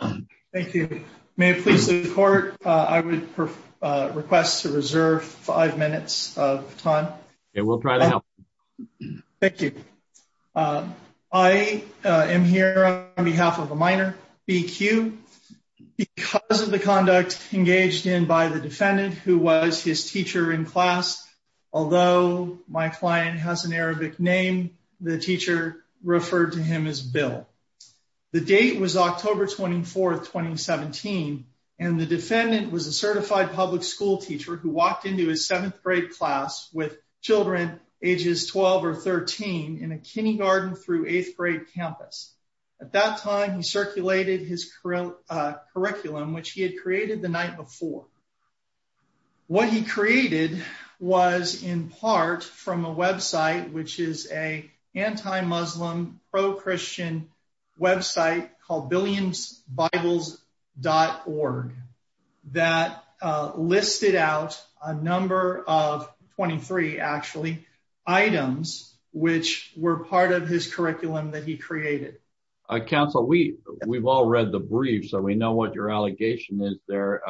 I am here on behalf of a minor, B. Q., because of the conduct engaged in by the defendant who was his teacher in class. Although my client has an Arabic name, the teacher referred to him as Bill. The date was October 24, 2017, and the defendant was a certified public school teacher who walked into his 7th grade class with children ages 12 or 13 in a kindergarten through 8th grade campus. At that time, he circulated his curriculum, which he had created the night before. What he created was, in part, from a website, which is an anti-Muslim, pro-Christian website called BillionsBibles.org, that listed out a number of, 23 actually, items which were part of his curriculum that he created. Counsel, we've all read the brief, so we know what your allegation is there.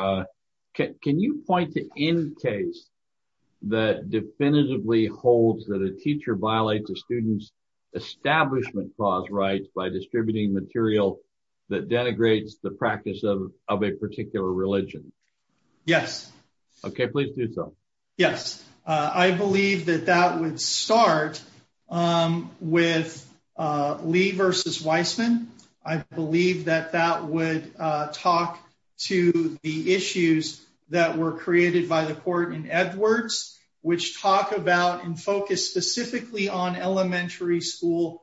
Can you point to any case that definitively holds that a teacher violates a student's establishment clause rights by distributing material that denigrates the practice of a particular religion? Yes. Okay, please do so. Yes. I believe that that would start with Lee v. Weissman. I believe that that would talk to the issues that were created by the court in Edwards, which talk about and focus specifically on elementary school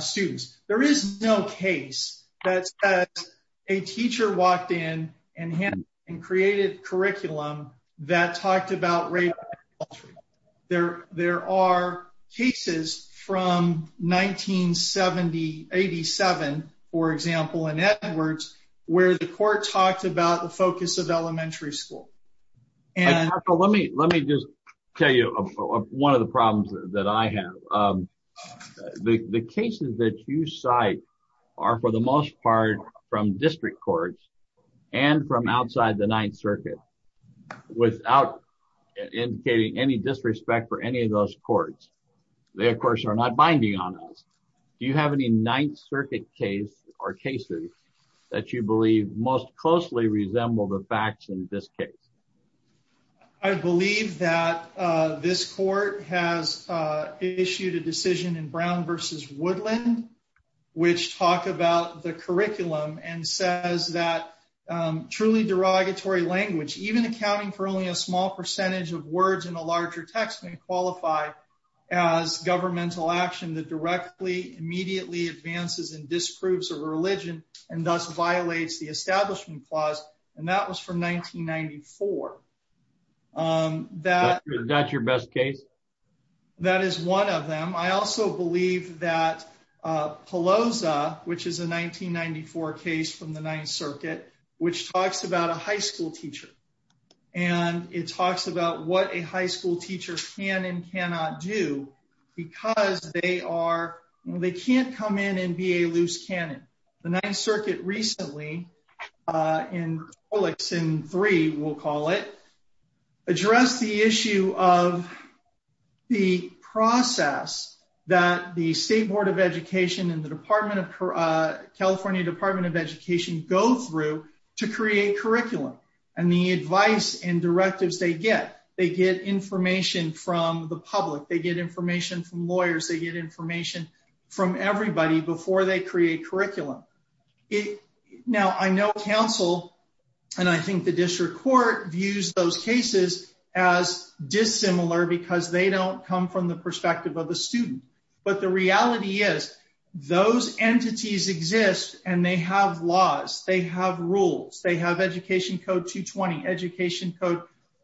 students. There is no case that says a teacher walked in and created curriculum that talked about denigrating the culture. There are cases from 1987, for example, in Edwards, where the court talked about the focus of elementary school. Let me just tell you one of the problems that I have. The cases that you cite are, for the most part, from district courts and from outside the Ninth Circuit, without indicating any disrespect for any of those courts. They, of course, are not binding on us. Do you have any Ninth Circuit case or cases that you believe most closely resemble the facts in this case? I believe that this court has issued a decision in Brown v. Woodland, which talk about the Even accounting for only a small percentage of words in a larger text may qualify as governmental action that directly, immediately advances and disproves a religion and thus violates the Establishment Clause, and that was from 1994. Is that your best case? That is one of them. I also believe that Pelosa, which is a 1994 case from the Ninth Circuit, which talks about a high school teacher, and it talks about what a high school teacher can and cannot do because they can't come in and be a loose cannon. The Ninth Circuit recently, in 3, we'll call it, addressed the issue of the process that the State Board of Education and the California Department of Education go through to create curriculum and the advice and directives they get. They get information from the public. They get information from lawyers. They get information from everybody before they create curriculum. Now I know counsel, and I think the district court views those cases as dissimilar because they don't come from the perspective of the student, but the reality is those entities exist and they have laws. They have rules. They have Education Code 220, Education Code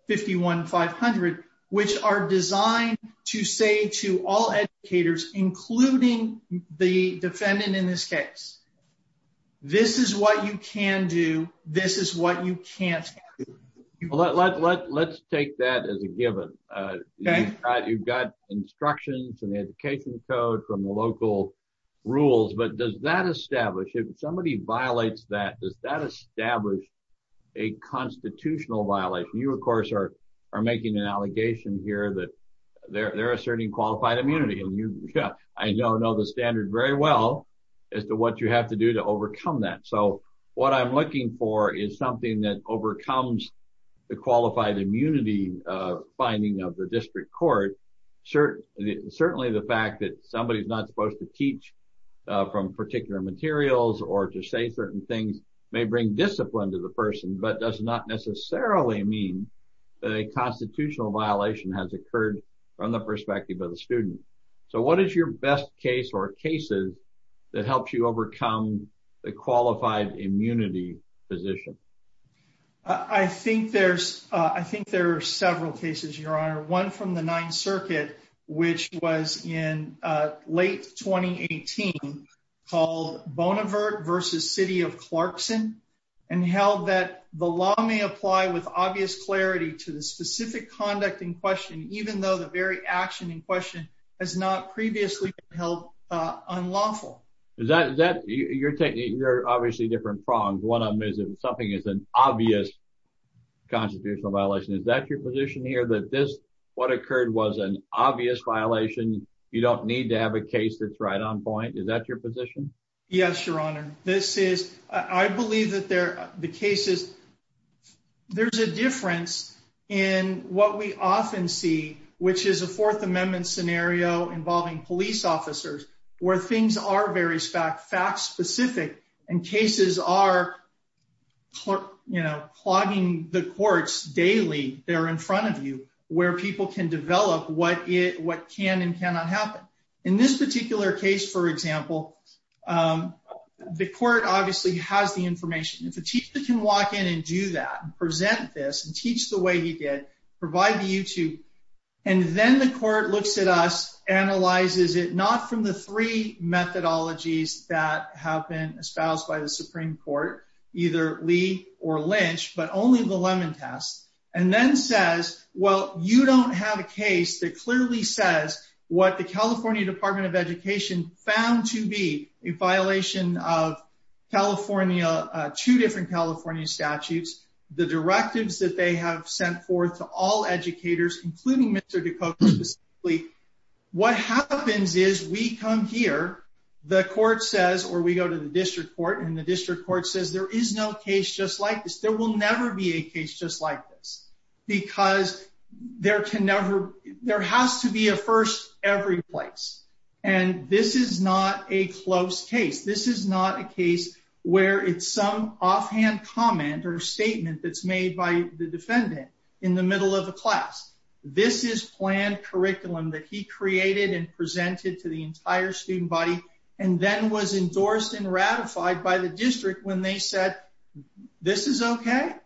51500, which are designed to say to all educators, including the defendant in this case, this is what you can do. This is what you can't do. Let's take that as a given. You've got instructions in the Education Code from the local rules, but does that establish, if somebody violates that, does that establish a constitutional violation? You, of course, are making an allegation here that they're asserting qualified immunity. I know the standard very well as to what you have to do to overcome that. What I'm looking for is something that overcomes the qualified immunity finding of the district court, certainly the fact that somebody is not supposed to teach from particular materials or to say certain things may bring discipline to the person, but does not necessarily mean that a constitutional violation has occurred from the perspective of the student. What is your best case or cases that helps you overcome the qualified immunity position? I think there are several cases, Your Honor. One from the Ninth Circuit, which was in late 2018, called Bonavert v. City of Clarkson and held that the law may apply with obvious clarity to the specific conduct in question even though the very action in question has not previously been held unlawful. You're obviously different prongs. One of them is if something is an obvious constitutional violation, is that your position here that this, what occurred, was an obvious violation? You don't need to have a case that's right on point? Is that your position? Yes, Your Honor. This is, I believe that the cases, there's a difference in what we often see, which is a Fourth Amendment scenario involving police officers, where things are very fact-specific and cases are, you know, clogging the courts daily, they're in front of you, where people can develop what can and cannot happen. In this particular case, for example, the court obviously has the information. If a teacher can walk in and do that, present this, teach the way he did, provide the YouTube, and then the court looks at us, analyzes it, not from the three methodologies that have been espoused by the Supreme Court, either Lee or Lynch, but only the Lemon Test, and then says, well, you don't have a case that clearly says what the California Department of Education found to be a violation of California, two different California statutes, the directives that they have sent forth to all educators, including Mr. DeCote specifically. What happens is we come here, the court says, or we go to the district court, and the district court says, there is no case just like this. There will never be a case just like this, because there can never, there has to be a first every place, and this is not a close case. This is not a case where it's some offhand comment or statement that's made by the defendant in the middle of the class. This is planned curriculum that he created and presented to the entire student body, and then was endorsed and ratified by the district when they said, this is okay?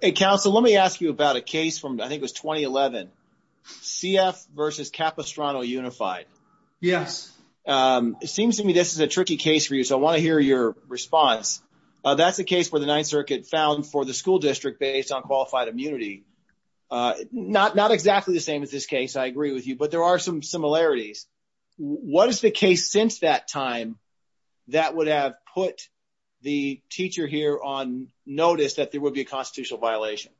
Hey, counsel, let me ask you about a case from, I think it was 2011, CF versus Capistrano Unified. Yes. It seems to me this is a tricky case for you, so I want to hear your response. That's a case where the Ninth Circuit found for the school district based on qualified immunity, not exactly the same as this case, I agree with you, but there are some similarities. What is the case since that time that would have put the teacher here on notice that there would be a constitutional violation?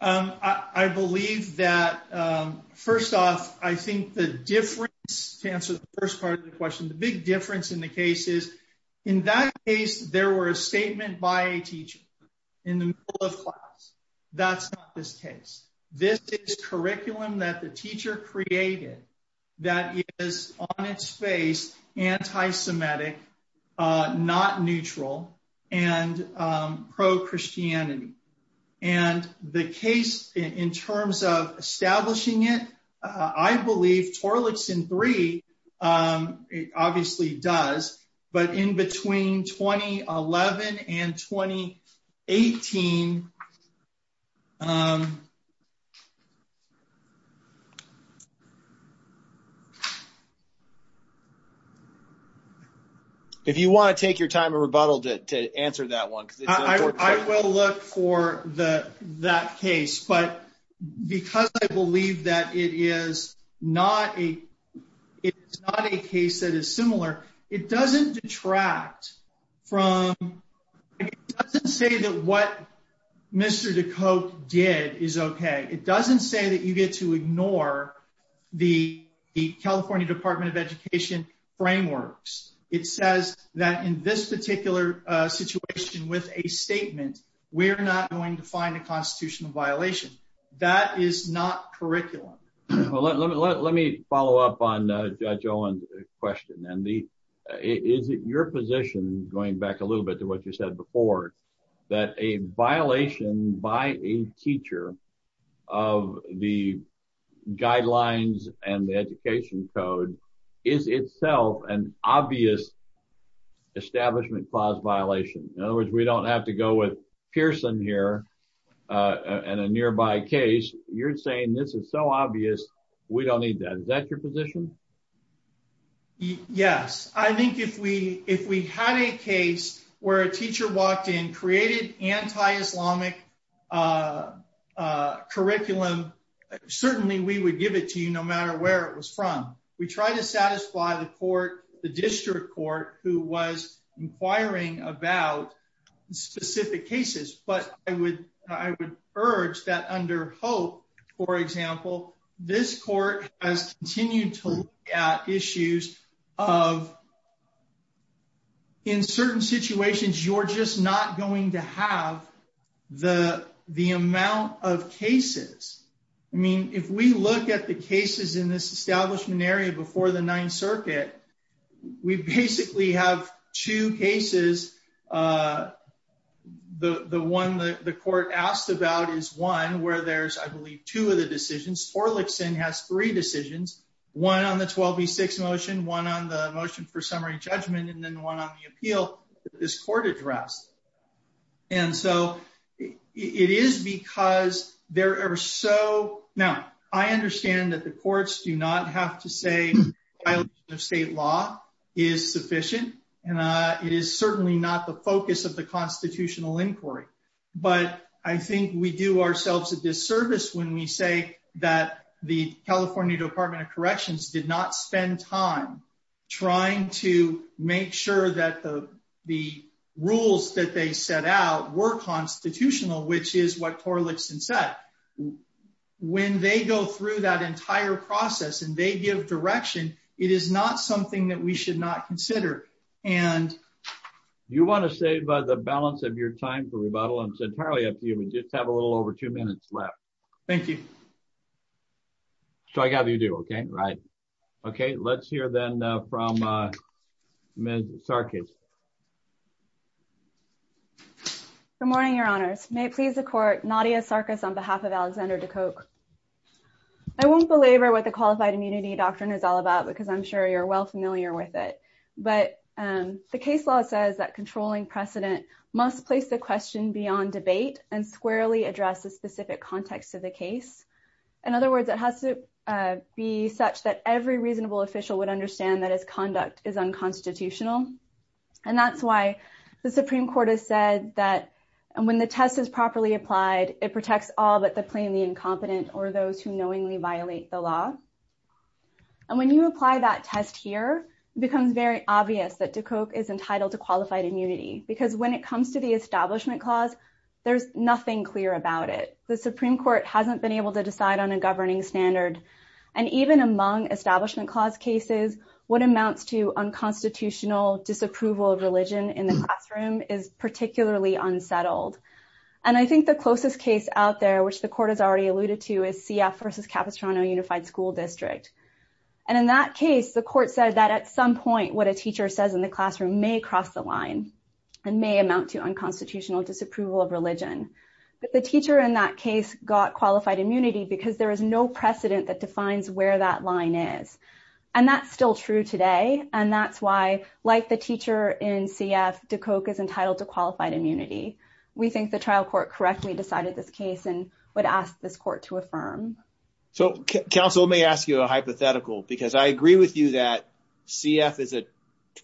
I believe that, first off, I think the difference, to answer the first part of the question, the big difference in the case is, in that case, there were a statement by a teacher in the middle of class. That's not this case. This is curriculum that the teacher created that is, on its face, anti-Semitic, not neutral, and pro-Christianity. And the case, in terms of establishing it, I believe Torlakson 3 obviously does, but in between 2011 and 2018, if you want to take your time and rebuttal to answer that one. I will look for that case, but because I believe that it is not a case that is similar, it doesn't detract from, it doesn't say that what Mr. DeCote did is okay. It doesn't say that you get to ignore the California Department of Education frameworks. It says that in this particular situation with a statement, we're not going to find a constitutional violation. That is not curriculum. Well, let me follow up on Judge Owen's question, and is it your position, going back a little bit to what you said before, that a violation by a teacher of the guidelines and the education code is itself an obvious establishment clause violation? In other words, we don't have to go with Pearson here and a nearby case. You're saying this is so obvious, we don't need that. Is that your position? Yes. I think if we had a case where a teacher walked in, created anti-Islamic curriculum, certainly we would give it to you no matter where it was from. We try to satisfy the court, the district court, who was inquiring about specific cases. But I would urge that under HOPE, for example, this court has continued to look at issues of in certain situations, you're just not going to have the amount of cases. If we look at the cases in this establishment area before the Ninth Circuit, we basically have two cases, the one that the court asked about is one where there's, I believe, two of the decisions, Orlikson has three decisions, one on the 12B6 motion, one on the motion for summary judgment, and then one on the appeal that this court addressed. And so it is because there are so, now, I understand that the courts do not have to say state law is sufficient, and it is certainly not the focus of the constitutional inquiry. But I think we do ourselves a disservice when we say that the California Department of Corrections did not spend time trying to make sure that the rules that they set out were constitutional, which is what Orlikson said. But when they go through that entire process and they give direction, it is not something that we should not consider. And... Do you want to save the balance of your time for rebuttal? It's entirely up to you. We just have a little over two minutes left. Thank you. So I got you to do, okay? Right. Okay. Let's hear then from Ms. Sarkis. Good morning, Your Honors. May it please the court, Nadia Sarkis on behalf of Alexander Dukok. I won't belabor what the Qualified Immunity Doctrine is all about because I'm sure you're well familiar with it. But the case law says that controlling precedent must place the question beyond debate and squarely address the specific context of the case. In other words, it has to be such that every reasonable official would understand that his conduct is unconstitutional. And that's why the Supreme Court has said that when the test is properly applied, it protects all but the plainly incompetent or those who knowingly violate the law. And when you apply that test here, it becomes very obvious that Dukok is entitled to qualified immunity because when it comes to the Establishment Clause, there's nothing clear about it. The Supreme Court hasn't been able to decide on a governing standard. And even among Establishment Clause cases, what amounts to unconstitutional disapproval of religion in the classroom is particularly unsettled. And I think the closest case out there, which the court has already alluded to, is CF versus Capistrano Unified School District. And in that case, the court said that at some point, what a teacher says in the classroom may cross the line and may amount to unconstitutional disapproval of religion. But the teacher in that case got qualified immunity because there is no precedent that defines where that line is. And that's still true today. And that's why, like the teacher in CF, Dukok is entitled to qualified immunity. We think the trial court correctly decided this case and would ask this court to affirm. So counsel, let me ask you a hypothetical because I agree with you that CF is a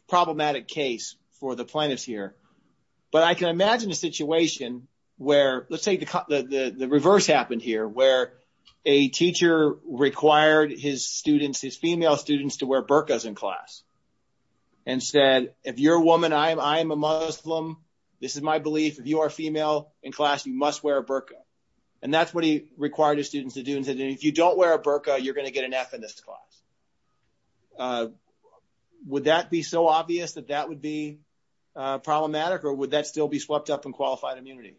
problematic case for the plaintiffs here. But I can imagine a situation where, let's say the reverse happened here, where a teacher required his students, his female students, to wear burqas in class and said, if you're a woman, I am a Muslim. This is my belief. If you are female in class, you must wear a burqa. And that's what he required his students to do. And he said, if you don't wear a burqa, you're going to get an F in this class. So would that be so obvious that that would be problematic? Or would that still be swept up in qualified immunity?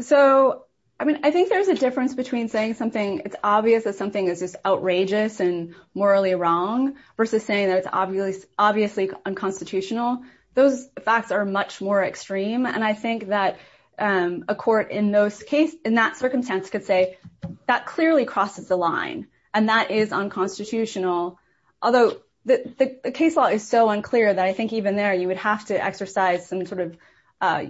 So I mean, I think there's a difference between saying something, it's obvious that something is just outrageous and morally wrong versus saying that it's obviously unconstitutional. Those facts are much more extreme. And I think that a court in that circumstance could say, that clearly crosses the line. And that is unconstitutional. Although the case law is so unclear that I think even there, you would have to exercise some sort of,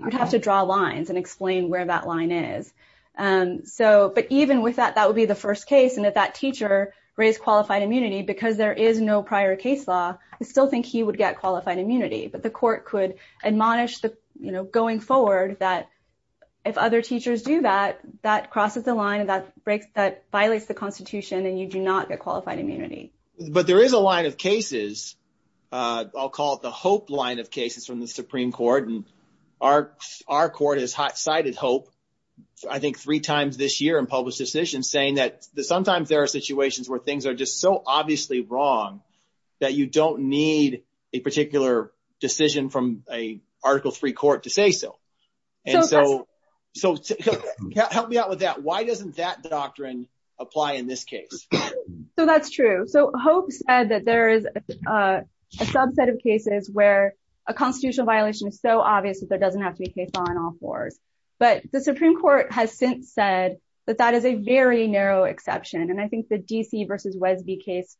you'd have to draw lines and explain where that line is. But even with that, that would be the first case. And if that teacher raised qualified immunity, because there is no prior case law, I still think he would get qualified immunity. But the court could admonish going forward that if other teachers do that, that crosses the line and that violates the constitution and you do not get qualified immunity. But there is a line of cases, I'll call it the hope line of cases from the Supreme Court. And our court has cited hope, I think three times this year in public decisions saying that sometimes there are situations where things are just so obviously wrong that you don't need a particular decision from a Article III court to say so. And so help me out with that. Why doesn't that doctrine apply in this case? So that's true. So hope said that there is a subset of cases where a constitutional violation is so obvious that there doesn't have to be case law in all fours. But the Supreme Court has since said that that is a very narrow exception. And I think the DC versus Wesby case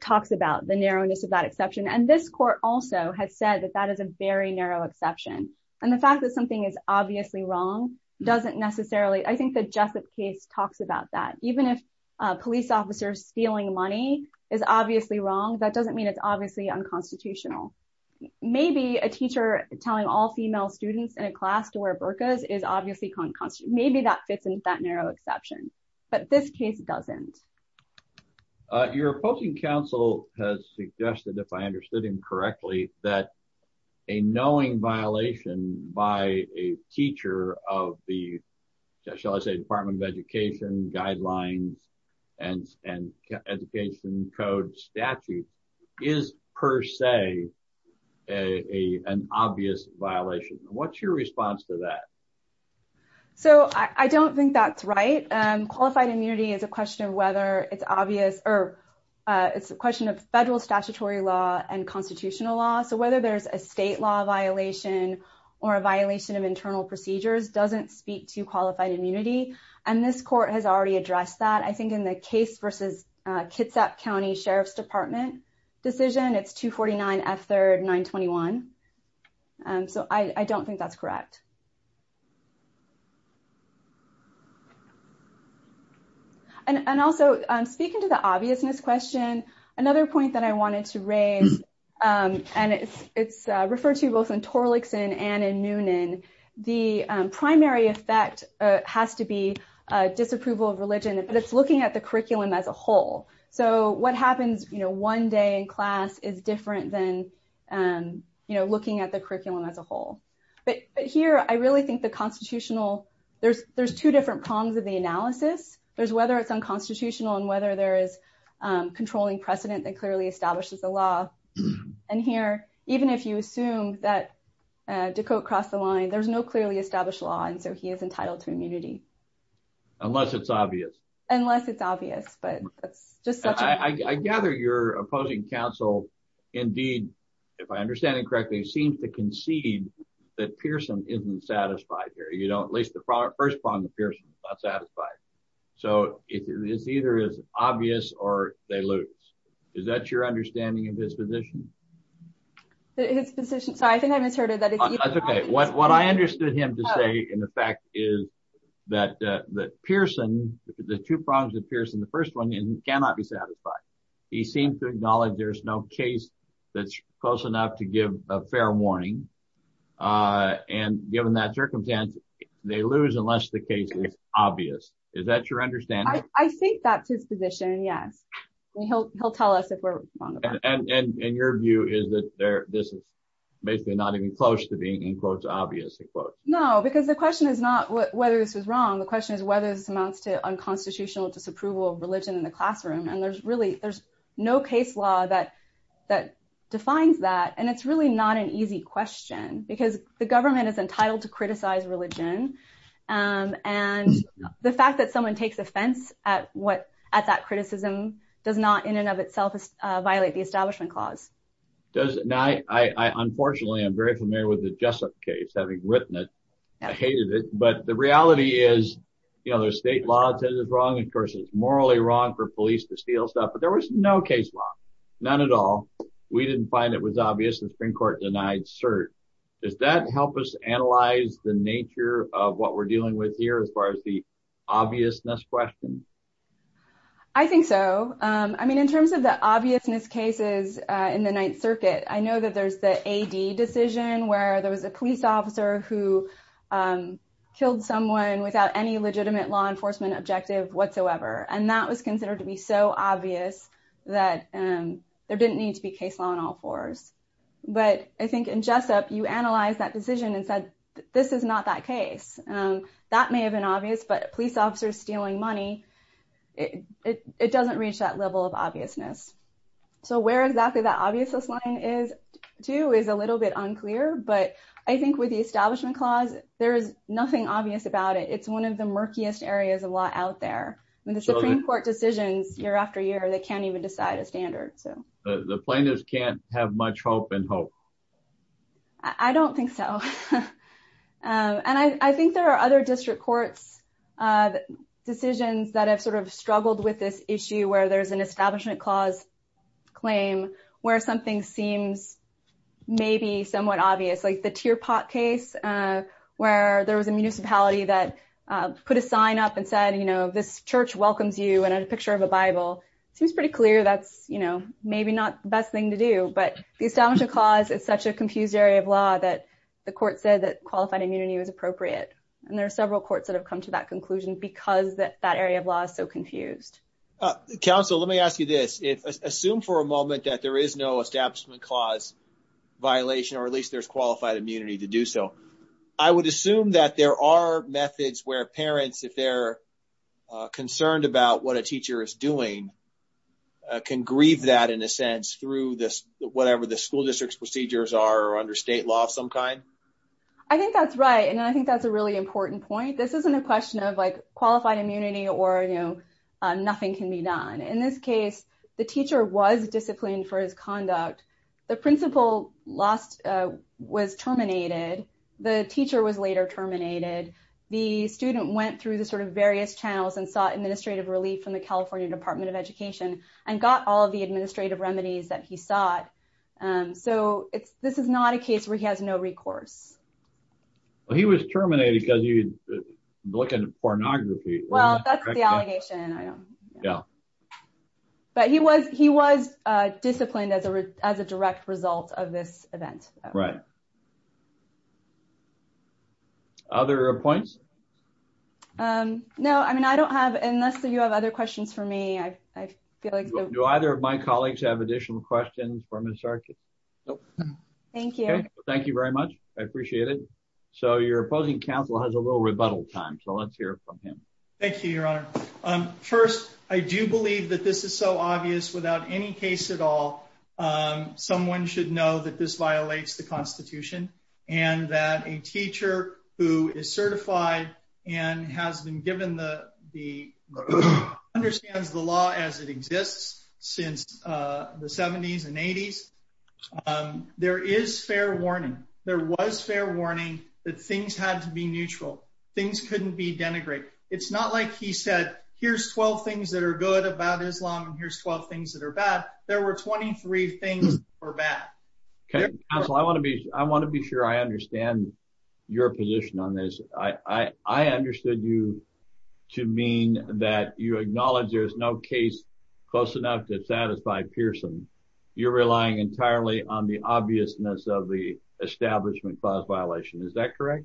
talks about the narrowness of that exception. And this court also has said that that is a very narrow exception. And the fact that something is obviously wrong doesn't necessarily, I think the Jessup case talks about that. Even if a police officer stealing money is obviously wrong, that doesn't mean it's obviously unconstitutional. Maybe a teacher telling all female students in a class to wear burkas is obviously, maybe that fits into that narrow exception. But this case doesn't. Your opposing counsel has suggested, if I understood him correctly, that a knowing violation by a teacher of the, shall I say, Department of Education guidelines and education code statute is per se an obvious violation. What's your response to that? So I don't think that's right. Qualified immunity is a question of whether it's obvious or it's a question of federal statutory law and constitutional law. So whether there's a state law violation or a violation of internal procedures doesn't speak to qualified immunity. And this court has already addressed that. I think in the case versus Kitsap County Sheriff's Department decision, it's 249 F3rd 921. So I don't think that's correct. And also, speaking to the obviousness question, another point that I wanted to raise, and it's referred to both in Torlakson and in Noonan, the primary effect has to be disapproval of religion, but it's looking at the curriculum as a whole. So what happens one day in class is different than looking at the curriculum as a whole. But here, I really think the constitutional, there's two different prongs of the analysis. There's whether it's unconstitutional and whether there is controlling precedent that clearly establishes the law. And here, even if you assume that Dakote crossed the line, there's no clearly established law. And so he is entitled to immunity. Unless it's obvious. Unless it's obvious, but that's just such a... I gather your opposing counsel, indeed, if I understand it correctly, seems to concede that Pearson isn't satisfied here. You know, at least the first prong of Pearson is not satisfied. So it's either as obvious or they lose. Is that your understanding of his position? His position? Sorry, I think I misheard it. That's okay. What I understood him to say, in effect, is that Pearson, the two prongs of Pearson, the first one is he cannot be satisfied. He seems to acknowledge there's no case that's close enough to give a fair warning. And given that circumstance, they lose unless the case is obvious. Is that your understanding? I think that's his position, yes. He'll tell us if we're wrong about it. And your view is that this is basically not even close to being, in quotes, obvious, in quotes. No, because the question is not whether this was wrong. The question is whether this amounts to unconstitutional disapproval of religion in the classroom. And there's really there's no case law that defines that. And it's really not an easy question, because the government is entitled to criticize religion. And the fact that someone takes offense at that criticism does not, in and of itself, violate the Establishment Clause. Unfortunately, I'm very familiar with the Jessup case, having written it. I hated it. But the reality is there's state law that says it's wrong. And of course, it's morally wrong for police to steal stuff. But there was no case law, none at all. We didn't find it was obvious. The Supreme Court denied cert. Does that help us analyze the nature of what we're dealing with here as far as the obviousness question? I think so. I mean, in terms of the obviousness cases in the Ninth Circuit, I know that there's the AD decision where there was a police officer who killed someone without any legitimate law enforcement objective whatsoever. And that was considered to be so obvious that there didn't need to be case law on all fours. But I think in Jessup, you analyze that decision and said, this is not that case. That may have been obvious, but police officers stealing money, it doesn't reach that level of obviousness. So where exactly that obviousness line is, too, is a little bit unclear. But I think with the Establishment Clause, there is nothing obvious about it. It's one of the murkiest areas of law out there. And the Supreme Court decisions year after year, they can't even decide a standard. The plaintiffs can't have much hope and hope. I don't think so. And I think there are other district courts' decisions that have sort of struggled with this issue where there's an Establishment Clause claim where something seems maybe somewhat obvious, like the Tearpot case, where there was a municipality that put a sign up and said, this church welcomes you and a picture of a Bible. It seems pretty clear that's maybe not the best thing to do. But the Establishment Clause is such a confused area of law that the court said that qualified immunity was appropriate. And there are several courts that have come to that conclusion because that area of law is so confused. Counsel, let me ask you this. Assume for a moment that there is no Establishment Clause violation, or at least there's qualified immunity to do so. I would assume that there are methods where parents, if they're concerned about what a teacher is doing, can grieve that in a sense through whatever the school district's procedures are or under state law of some kind? I think that's right. And I think that's a really important point. This isn't a question of qualified immunity or nothing can be done. In this case, the teacher was disciplined for his conduct. The principal was terminated. The teacher was later terminated. The student went through the various channels and sought administrative relief from the California Department of Education and got all of the administrative remedies that he sought. So this is not a case where he has no recourse. Well, he was terminated because he was looking at pornography. Well, that's the allegation. I don't know. Yeah. But he was disciplined as a direct result of this event. Right. Other points? No, I mean, I don't have, unless you have other questions for me, I feel like. Do either of my colleagues have additional questions for Ms. Archer? Nope. Thank you. Thank you very much. I appreciate it. So your opposing counsel has a little rebuttal time. So let's hear from him. Thank you, Your Honor. First, I do believe that this is so obvious without any case at all. Someone should know that this violates the Constitution and that a teacher who is certified and has been given the, understands the law as it exists since the 70s and 80s. There is fair warning. There was fair warning that things had to be neutral. Things couldn't be denigrated. It's not like he said, here's 12 things that are good about Islam and here's 12 things that are bad. There were 23 things that were bad. Okay, counsel, I want to be sure I understand your position on this. I understood you to mean that you acknowledge there's no case close enough to satisfy Pearson. You're relying entirely on the obviousness of the establishment clause violation. Is that correct?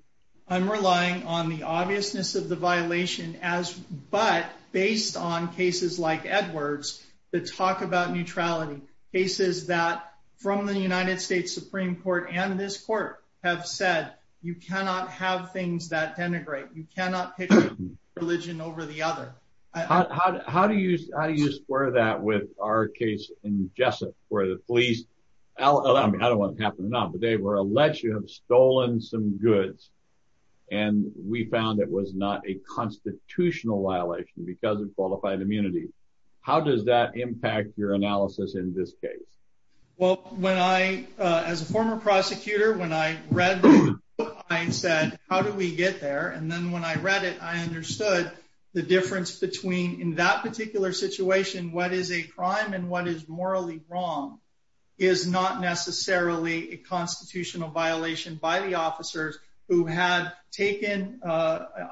I'm relying on the obviousness of the violation as, but based on cases like Edward's that talk about neutrality, cases that from the United States Supreme Court and this court have said, you cannot have things that denigrate. You cannot pick one religion over the other. How do you square that with our case in Jessup where the police, I don't want it to happen or not, but they were alleged to have stolen some goods and we found it was not a constitutional violation because of qualified immunity. How does that impact your analysis in this case? Well, when I, as a former prosecutor, when I read the book, I said, how do we get there? And then when I read it, I understood the difference between in that particular situation, what is a crime and what is morally wrong is not necessarily a constitutional violation by the officers who had taken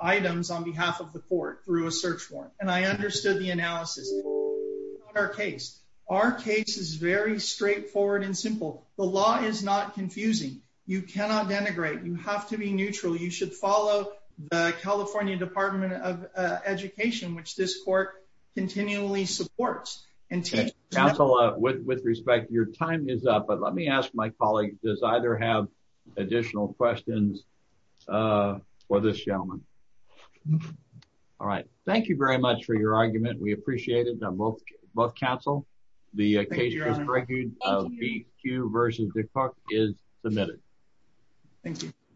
items on behalf of the court through a search warrant. And I understood the analysis in our case. Our case is very straightforward and simple. The law is not confusing. You cannot denigrate. You have to be neutral. You should follow the California Department of Education, which this court continually supports and counsel with respect. Your time is up. But let me ask my colleague. Does either have additional questions for this gentleman? All right. Thank you very much for your argument. We appreciate it. Both counsel, the occasion of you versus the court is submitted. Thank you.